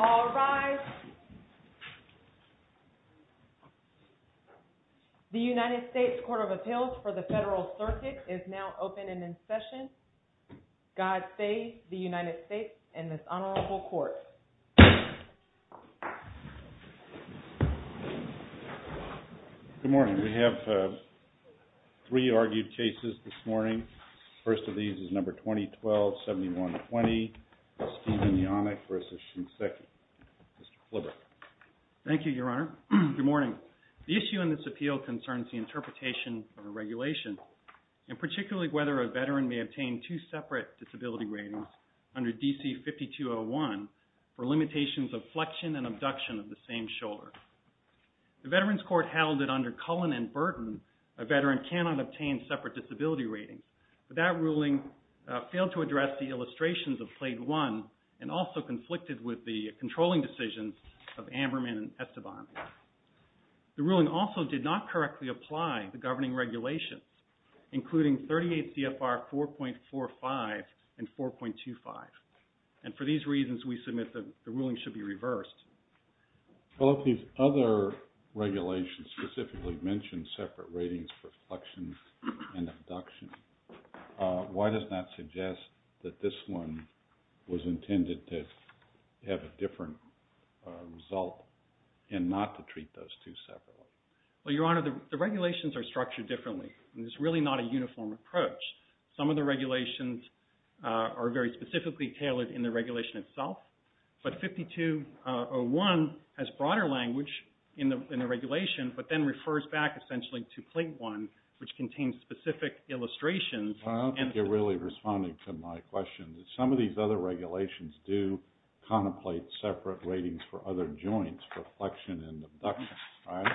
All rise. The United States Court of Appeals for the Federal Circuit is now open and in session. Good morning. We have three argued cases this morning. First of these is number 2012-71-20, Stephen Yonek v. Shinseki. Mr. Kliber. Thank you, Your Honor. Good morning. The issue in this appeal concerns the interpretation of a regulation and particularly whether a veteran may obtain two separate disability ratings under D.C. 5201 for limitations of flexion and abduction of the same shoulder. The Veterans Court held that under Cullen and Burton, a veteran cannot obtain separate disability ratings. But that ruling failed to address the illustrations of Plate 1 and also conflicted with the controlling decisions of Amberman and Esteban. The ruling also did not correctly apply the governing regulations including 38 CFR 4.45 and 4.25. And for these reasons, we submit that the ruling should be reversed. Well, if these other regulations specifically mention separate ratings for flexion and abduction, why does that suggest that this one was intended to have a different result and not to treat those two separately? Well, Your Honor, the regulations are structured differently. It's really not a uniform approach. Some of the regulations are very specifically tailored in the regulation itself. But 5201 has broader language in the regulation, but then refers back essentially to Plate 1, which contains specific illustrations and... Well, I don't think you're really responding to my question. Some of these other regulations do contemplate separate ratings for other joints for flexion and abduction, right?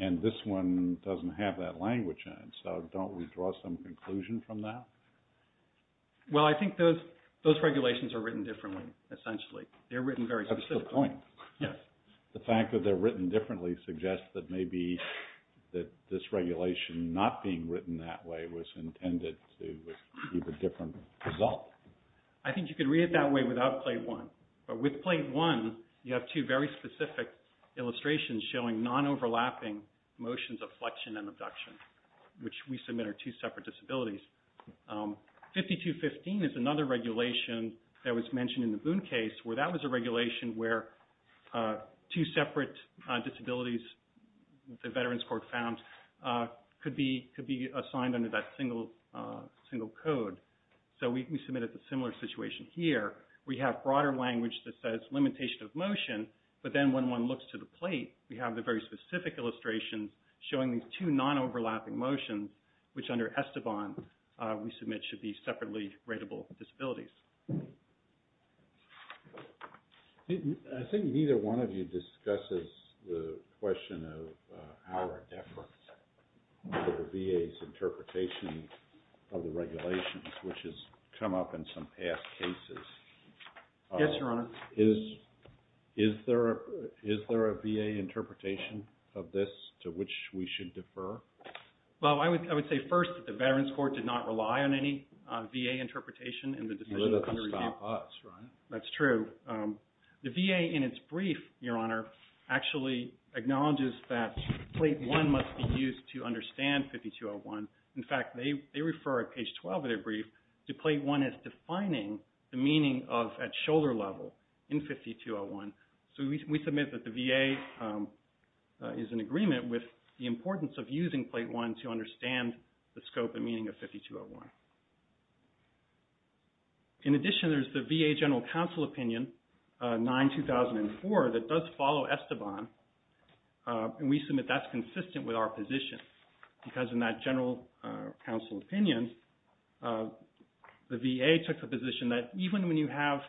And this one doesn't have that language in it. So don't we draw some conclusion from that? Well, I think those regulations are written differently, essentially. They're written very specifically. That's the point. Yes. The fact that they're written differently suggests that maybe that this regulation not being written that way was intended to give a different result. I think you could read it that way without Plate 1. But with Plate 1, you have two very specific motions of flexion and abduction, which we submit are two separate disabilities. 5215 is another regulation that was mentioned in the Boone case, where that was a regulation where two separate disabilities, the Veterans Court found, could be assigned under that single code. So we submitted a similar situation here. We have broader language that says limitation of motion. But then when one looks to the plate, we have the very specific illustrations showing these two non-overlapping motions, which under Esteban, we submit should be separately ratable disabilities. I think neither one of you discusses the question of our deference to the VA's interpretation of the regulations, which has come up in some past cases. Yes, Your Honor. Is there a VA interpretation of this to which we should defer? Well, I would say first that the Veterans Court did not rely on any VA interpretation in the decision under review. You let it stop us, right? That's true. The VA, in its brief, Your Honor, actually acknowledges that Plate 1 must be used to understand 5201. In fact, they refer at page 12 of their brief to Plate 1 as defining the meaning of at shoulder level in 5201. So we submit that the VA is in agreement with the importance of using Plate 1 to understand the scope and meaning of 5201. In addition, there's the VA General Counsel Opinion 9-2004 that does follow Esteban. And we submit that's consistent with our position because in that General Counsel Opinion, the VA has a position that even when you have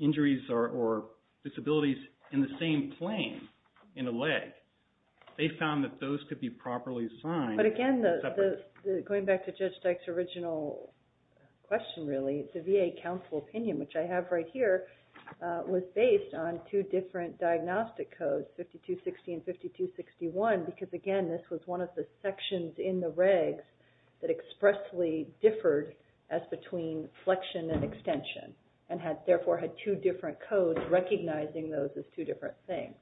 injuries or disabilities in the same plane in a leg, they found that those could be properly assigned. But again, going back to Judge Dyke's original question really, the VA Counsel Opinion, which I have right here, was based on two different diagnostic codes, 5260 and 5261, because again, this was one of the sections in the regs that expressly differed as between flexion and extension and therefore had two different codes recognizing those as two different things.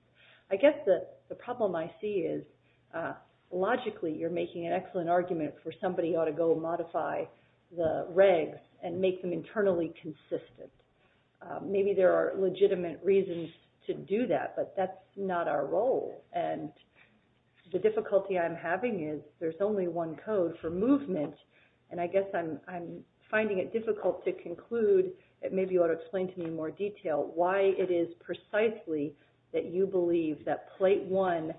I guess the problem I see is logically you're making an excellent argument for somebody ought to go modify the regs and make them internally consistent. Maybe there are legitimate reasons to do that, but that's not our role. And the difficulty I'm having is there's only one code for movement. And I guess I'm finding it difficult to conclude. Maybe you ought to explain to me in more detail why it is precisely that you believe that Plate 1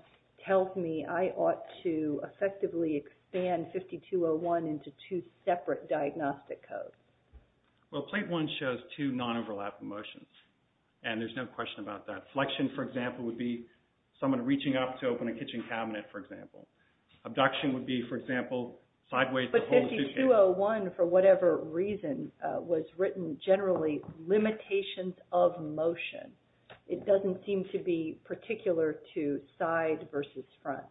tells me I ought to effectively expand 5201 into two separate diagnostic codes. Well, Plate 1 shows two non-overlapping motions. And there's no question about that. Flexion, for example, would be someone reaching up to open a kitchen cabinet, for example. Abduction would be, for example, sideways to hold a suitcase. But 5201, for whatever reason, was written generally limitations of motion. It doesn't seem to be particular to side versus front.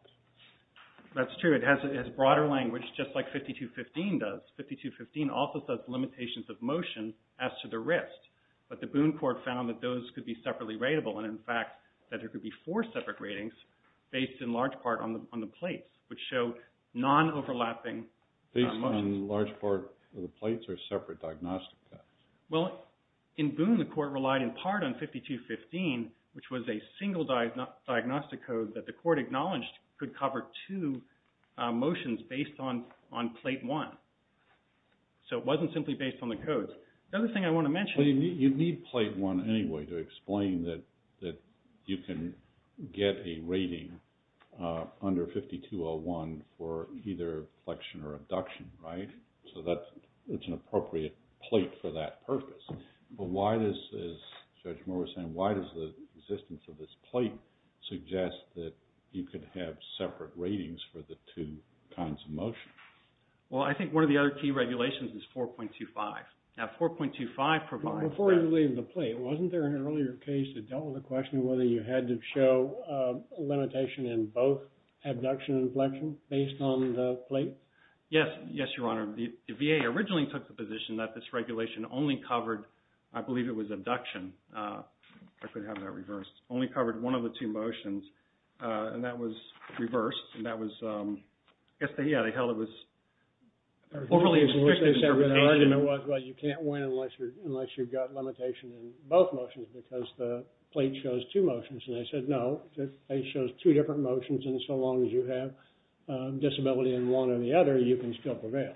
That's true. It has broader language, just like 5215 does. 5215 also says limitations of motion as to the wrist. But the Boone Court found that those could be separately ratable. And, in fact, that there could be four separate ratings based in large part on the plates, which show non-overlapping motions. Based on large part on the plates or separate diagnostic codes? Well, in Boone, the Court relied in part on 5215, which was a single diagnostic code that the Court acknowledged could cover two motions based on Plate 1. So it wasn't simply based on the codes. The other thing I want to mention... You need Plate 1 anyway to explain that you can get a rating under 5201 for either flexion or abduction, right? So it's an appropriate plate for that purpose. But why does, as Judge you could have separate ratings for the two kinds of motion? Well, I think one of the other key regulations is 4.25. Now, 4.25 provides that... Before you leave the plate, wasn't there an earlier case that dealt with the question whether you had to show a limitation in both abduction and flexion based on the plate? Yes. Yes, Your Honor. The VA originally took the position that this regulation only covered, I believe it was abduction. I could have that reversed. Only covered one of the two motions. And that was reversed. And that was... I guess, yeah, they held it was overly restricted interpretation. You can't win unless you've got limitation in both motions because the plate shows two motions. And they said, no, the plate shows two different motions. And so long as you have disability in one or the other, you can still prevail.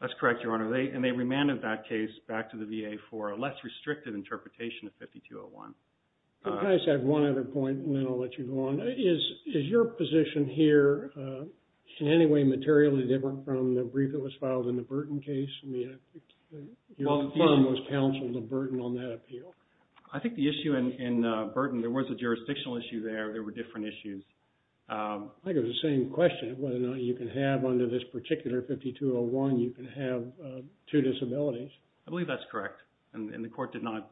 That's correct, Your Honor. And they remanded that case back to the VA for a less restricted interpretation of 5201. Can I just add one other point and then I'll let you go on? Is your position here in any way materially different from the brief that was filed in the Burton case? I mean, your firm was counseled in Burton on that appeal. I think the issue in Burton, there was a jurisdictional issue there. There were different issues. I think it was the same question, whether or not you can have under this particular 5201, you can have two disabilities. I believe that's correct. And the court did not...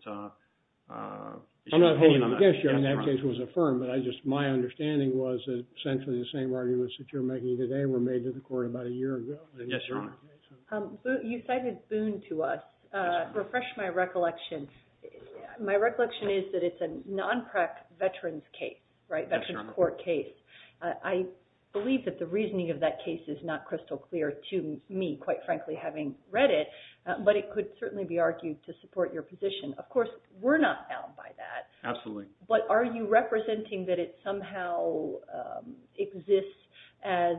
I'm not holding against you. I mean, that case was affirmed. But my understanding was that essentially the same arguments that you're making today were made to the court about a year ago. Yes, Your Honor. You cited Boone to us. Refresh my recollection. My recollection is that it's a non-PREC veterans case, right? Veterans court case. I believe that the reasoning of that case is not crystal clear to me, quite frankly, having read it. But it could certainly be argued to support your position. Of course, we're not bound by that. Absolutely. But are you representing that it somehow exists as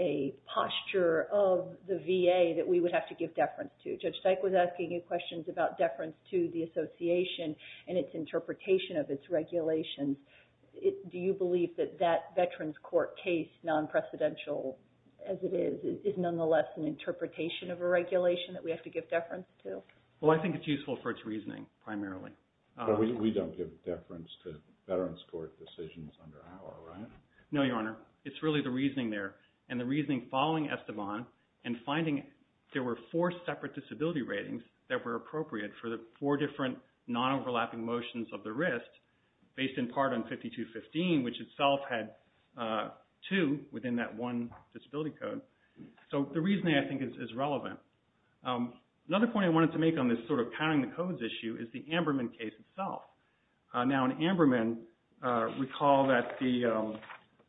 a posture of the VA that we would have to give deference to? Judge Dyke was asking you questions about deference to the association and its interpretation of its regulations. Do you believe that that veterans court case, non-precedential as it is, is nonetheless an interpretation of a regulation that we have to give deference to? Well, I think it's useful for its reasoning, primarily. But we don't give deference to veterans court decisions under our, right? No, Your Honor. It's really the reasoning there. And the reasoning following Esteban and finding there were four separate disability ratings that were appropriate for the four different non-overlapping motions of the wrist, based in part on 5215, which itself had two within that one disability code. So the reasoning, I think, is relevant. Another point I wanted to make on this sort of counting the codes issue is the Amberman case itself. Now, in Amberman, recall that the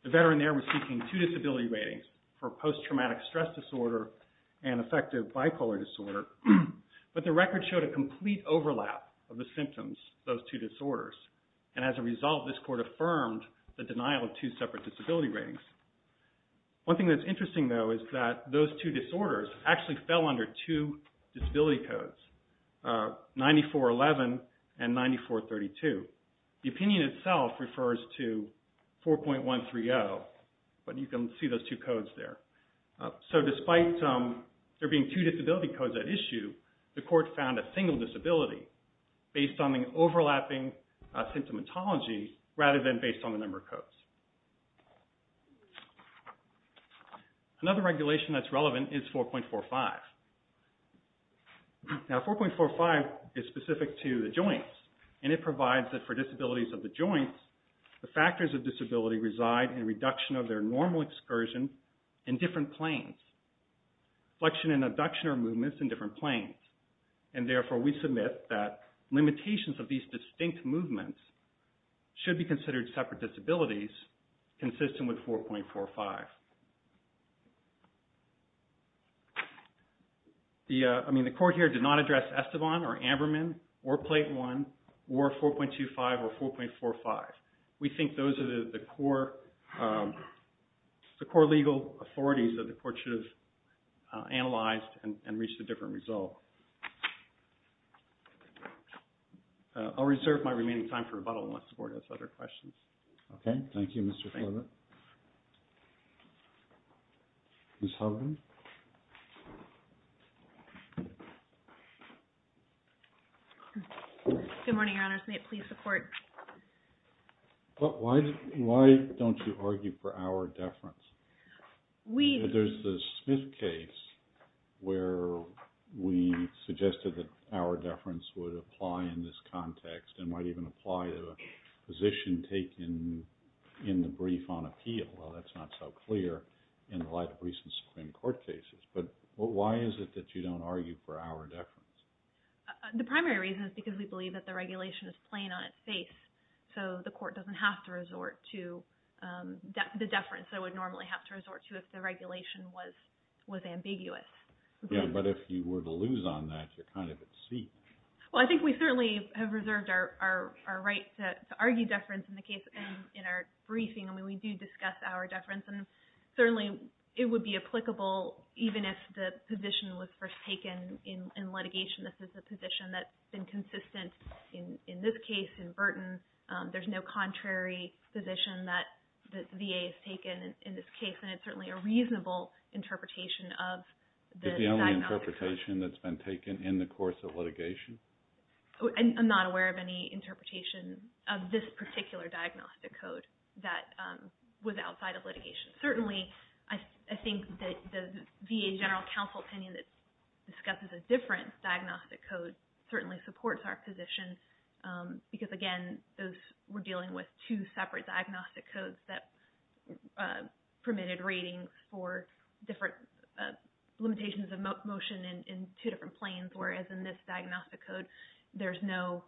veteran there was seeking two disability ratings for post-traumatic stress disorder and affective bipolar disorder. But the record showed a complete overlap of the symptoms of those two disorders. And as a result, this court affirmed the denial of two separate disability ratings. One thing that's interesting, though, is that those two disorders actually fell under two disability codes, 9411 and 9432. The opinion itself refers to 4.130, but you can see those two codes there. So despite there being two disability codes at issue, the court found a single disability based on the overlapping symptomatology rather than based on the number of codes. Another regulation that's relevant is 4.45. Now, 4.45 is specific to the joints, and it provides that for disabilities of the joints, the factors of disability reside in reduction of their normal excursion in different planes, flexion and abduction of movements in different planes. And therefore, we submit that limitations of these distinct movements should be considered separate disabilities consistent with 4.45. The court here did not address Esteban or Amberman or Plate I or 4.25 or 4.45. We think those are the core legal authorities that the court should have analyzed and reached a different result. I'll reserve my remaining time for rebuttal unless the court has other questions. Okay. Thank you, Mr. Fleming. Ms. Hogan? Good morning, Your Honors. May it please the Court? Why don't you argue for our deference? There's the Smith case where we suggested that our deference would apply in this context and might even apply to a position taken in the brief on appeal. Well, that's not so clear in a lot of recent Supreme Court cases. But why is it that you don't argue for our deference? The primary reason is because we believe that the regulation is plain on its face, so the court doesn't have to resort to the deference it would normally have to resort to if the regulation was ambiguous. Yeah, but if you were to lose on that, you're kind of at seak. Well, I think we certainly have reserved our right to argue deference in our briefing. I mean, we do discuss our deference, and certainly it would be applicable even if the position was first taken in litigation. This is a position that's been consistent in this case, in Burton. There's no contrary position that the VA has taken in this case, and it's certainly a reasonable interpretation of the diagnostic code. Is it the only interpretation that's been taken in the course of litigation? I'm not aware of any interpretation of this particular diagnostic code that was outside of litigation. But certainly, I think that the VA general counsel opinion that discusses a different diagnostic code certainly supports our position, because again, we're dealing with two separate diagnostic codes that permitted ratings for different limitations of motion in two different planes, whereas in this diagnostic code, there's no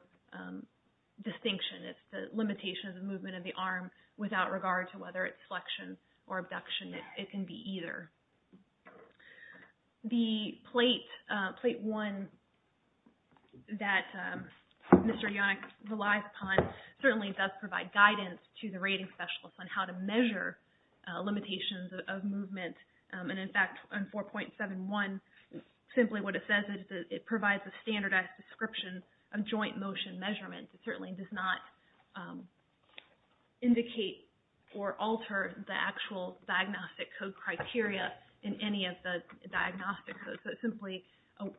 distinction. It's the limitations of movement of the arm without regard to whether it's flexion or abduction. It can be either. The plate 1 that Mr. Yonick relies upon certainly does provide guidance to the rating specialist on how to measure limitations of movement. And in fact, on 4.71, simply what it says is that it provides a standardized description of joint motion measurement. It certainly does not indicate or alter the actual diagnostic code criteria in any of the diagnostic codes. So it's simply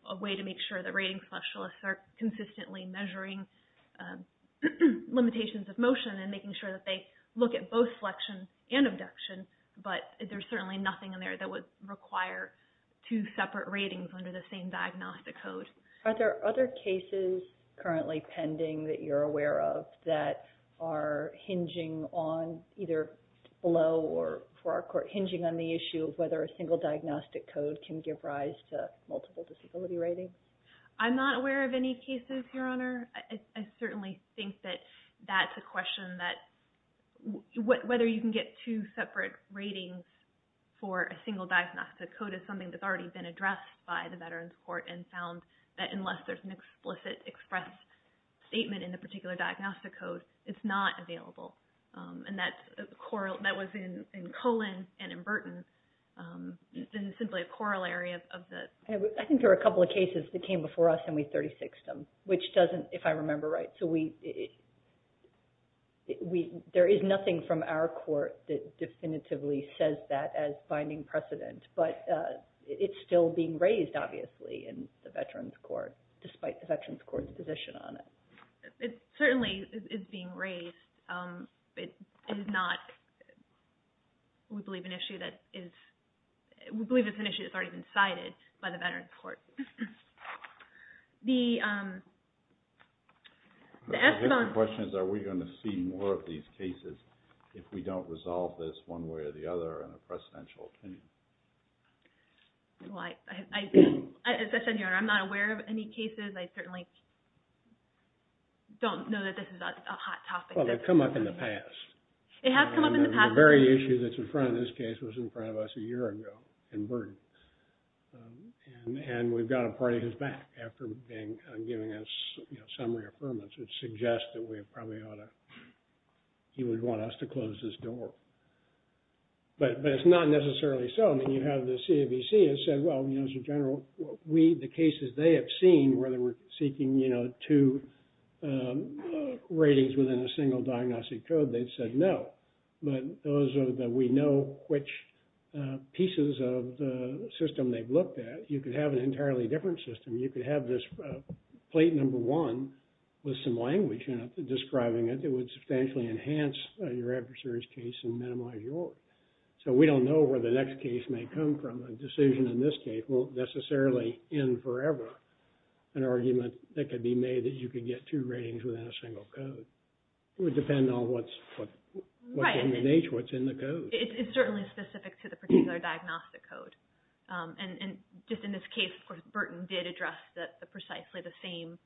a way to make sure that rating specialists are consistently measuring limitations of motion and making sure that they look at both flexion and abduction, but there's certainly nothing in there that would require two separate ratings under the same diagnostic code. Are there other cases currently pending that you're aware of that are hinging on either below or for our court hinging on the issue of whether a single diagnostic code can give rise to multiple disability rating? I'm not aware of any cases, Your Honor. I certainly think that that's a question that whether you can get two separate ratings for a single diagnostic code is something that's already been addressed by the Veterans Court and found that unless there's an explicit express statement in the particular diagnostic code, it's not available. And that was in Colon and in Burton. This is simply a corollary of the... I think there were a couple of cases that came before us and we 36ed them, which doesn't, if I remember right. So there is nothing from our court that definitively says that as finding precedent, but it's still being raised, obviously, in the Veterans Court, despite the Veterans Court's position on it. It certainly is being raised. It is not, we believe, an issue that is... We believe it's an issue that's already been cited by the Veterans Court. The... The question is, are we going to see more of these cases if we don't resolve this one way or the other in a precedential opinion? As I said, Your Honor, I'm not aware of any cases. I certainly don't know that this is a hot topic. Well, they've come up in the past. It has come up in the past. The very issue that's in front of this case was in front of us a year ago in Burton. And we've got a party who's back after giving us some reaffirmance. It suggests that we probably ought to... He would want us to close this door. But it's not necessarily so. I mean, you have the CABC has said, well, as a general, the cases they have seen where they were seeking two ratings within a single diagnostic code, they said no. But those that we know which pieces of the system they've looked at, you could have an entirely different system. You could have this plate number one with some language in it describing it. It would substantially enhance your adversaries' case and minimize yours. So we don't know where the next case may come from. A decision in this case won't necessarily end forever. An argument that could be made that you could get two ratings within a single code. It would depend on what's in the nature, what's in the code. It's certainly specific to the particular diagnostic code. And just in this case, of course, Burton did address precisely the same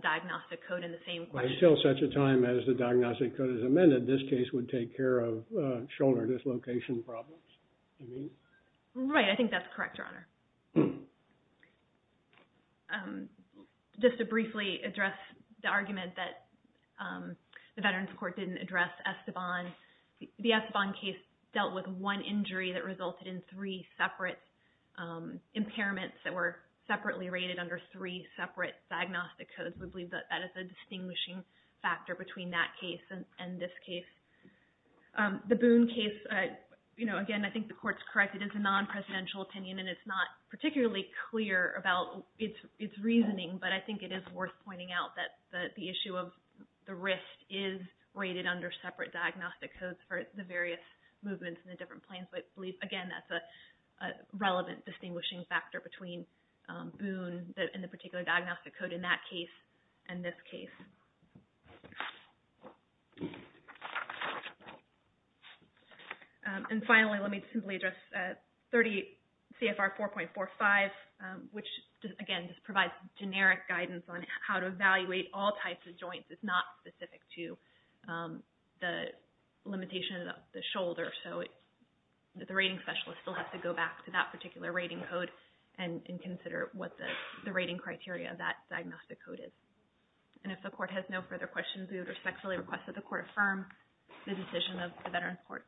diagnostic code and the same question. Until such a time as the diagnostic code is amended, this case would take care of shoulder dislocation problems. You mean? Right. I think that's correct, Your Honor. Just to briefly address the argument that the Veterans Court didn't address Esteban, the Esteban case dealt with one injury that resulted in three separate impairments that were separately rated under three separate diagnostic codes. We believe that that is a distinguishing factor between that case and this case. The Boone case, again, I think the Court's correct. It is a non-presidential opinion and it's not particularly clear about its reasoning, but I think it is worth pointing out that the issue of the wrist is rated under separate diagnostic codes for the various movements in the different planes. But, again, that's a relevant distinguishing factor between Boone and the particular diagnostic code in that case and this case. And, finally, let me simply address CFR 38.4.45, which, again, provides generic guidance on how to evaluate all types of joints. It's not specific to the limitation of the shoulder. So the rating specialist still has to go back to that particular rating code and consider what the rating criteria of that diagnostic code is. And if the Court has no further questions, we would respectfully request that the Court affirm the decision of the Veterans Court.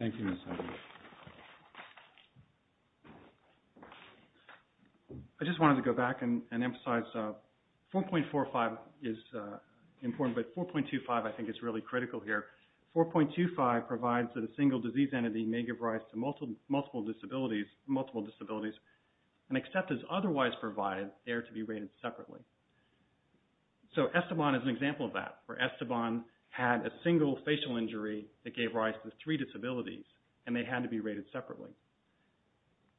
Thank you, Ms. Hager. I just wanted to go back and emphasize 4.45 is important, but 4.25 I think is really critical here. 4.25 provides that a single disease entity may give rise to multiple disabilities and except as otherwise provided, they are to be rated separately. So Esteban is an example of that, where Esteban had a single facial injury that gave rise to three disabilities and they had to be rated separately.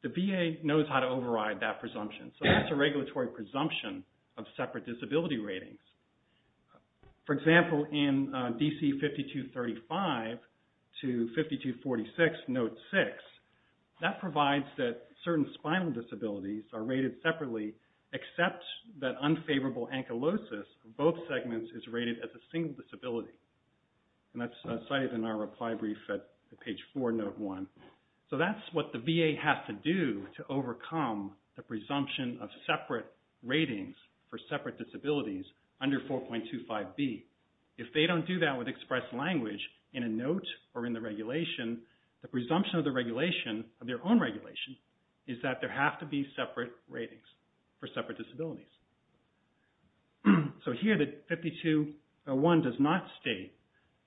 The VA knows how to override that presumption. So that's a regulatory presumption of separate disability ratings. For example, in DC 5235 to 5246, Note 6, that provides that certain spinal disabilities are rated separately except that unfavorable ankylosis of both segments is rated as a single disability. And that's cited in our reply brief at page 4, Note 1. So that's what the VA has to do to overcome the presumption of separate ratings for separate disabilities under 4.25b. If they don't do that with express language in a note or in the regulation, the presumption of the regulation of their own regulation is that there have to be separate ratings for separate disabilities. So here the 5201 does not state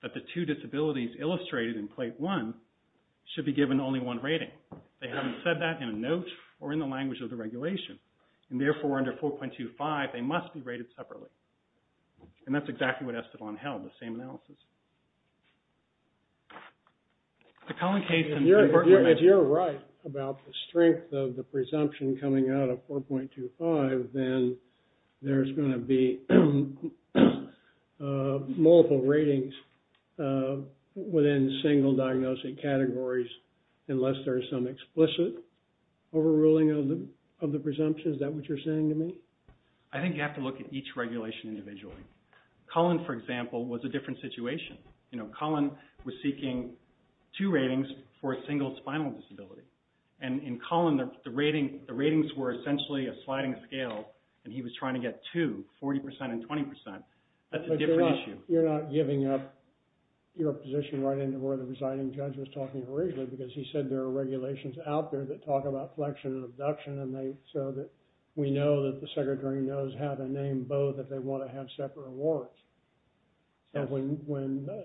that the two disabilities illustrated in plate 1 should be given only one rating. They haven't said that in a note or in the language of the regulation. And therefore, under 4.25, they must be rated separately. And that's exactly what Esteban held, the same analysis. If you're right about the strength of the presumption coming out of 4.25, then there's going to be multiple ratings within single diagnostic categories unless there's some explicit overruling of the presumption. Is that what you're saying to me? I think you have to look at each regulation individually. Cullen, for example, was a different situation. Cullen was seeking two ratings for a single spinal disability. And in Cullen, the ratings were essentially a sliding scale, and he was trying to get two, 40% and 20%. That's a different issue. You're not giving up your position right into where the presiding judge was talking originally because he said there are regulations out there that talk about flexion and abduction, so that we know that the secretary knows how to name both if they want to have separate awards. And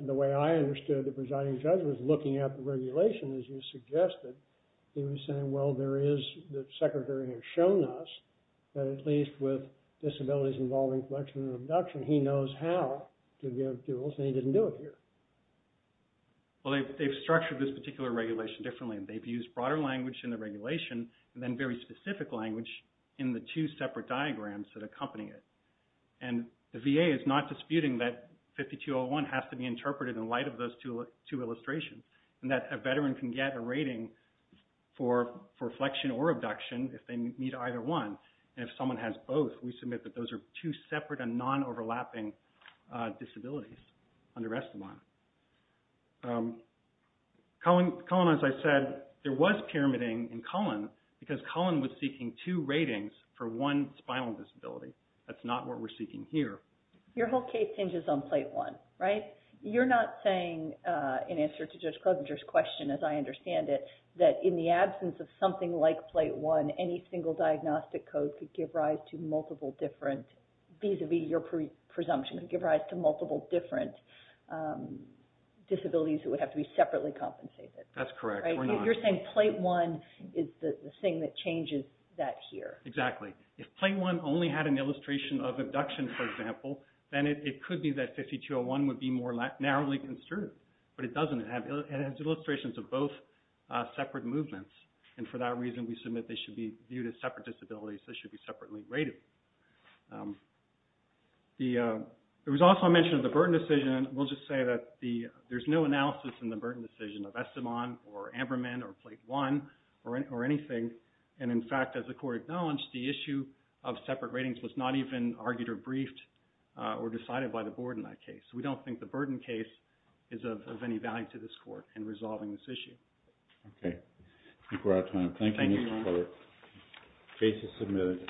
the way I understood the presiding judge was looking at the regulation, as you suggested, he was saying, well, the secretary has shown us that at least with disabilities involving flexion and abduction, he knows how to give duels, and he didn't do it here. Well, they've structured this particular regulation differently. They've used broader language in the regulation, and then very specific language in the two separate diagrams that accompany it. And the VA is not disputing that 5201 has to be interpreted in light of those two illustrations, and that a veteran can get a rating for flexion or abduction if they meet either one. And if someone has both, we submit that those are two separate and non-overlapping disabilities under Esteban. Colin, as I said, there was pyramiding in Colin because Colin was seeking two ratings for one spinal disability. That's not what we're seeking here. Your whole case hinges on Plate 1, right? You're not saying in answer to Judge Klobuchar's question, as I understand it, that in the absence of something like Plate 1, any single diagnostic code could give rise to multiple different, vis-à-vis your presumption, could give rise to multiple different disabilities that would have to be separately compensated. That's correct. You're saying Plate 1 is the thing that changes that here. Exactly. If Plate 1 only had an illustration of abduction, for example, then it could be that 5201 would be more narrowly construed. But it doesn't. It has illustrations of both separate movements, and for that reason we submit they should be viewed as separate disabilities. They should be separately rated. There was also a mention of the burden decision. We'll just say that there's no analysis in the burden decision of Esteban or Amberman or Plate 1 or anything. And in fact, as the Court acknowledged, the issue of separate ratings was not even argued or briefed or decided by the Board in that case. We don't think the burden case is of any value to this Court in resolving this issue. Okay. I think we're out of time. Thank you, Mr. Fullert. Thank you. Case is submitted.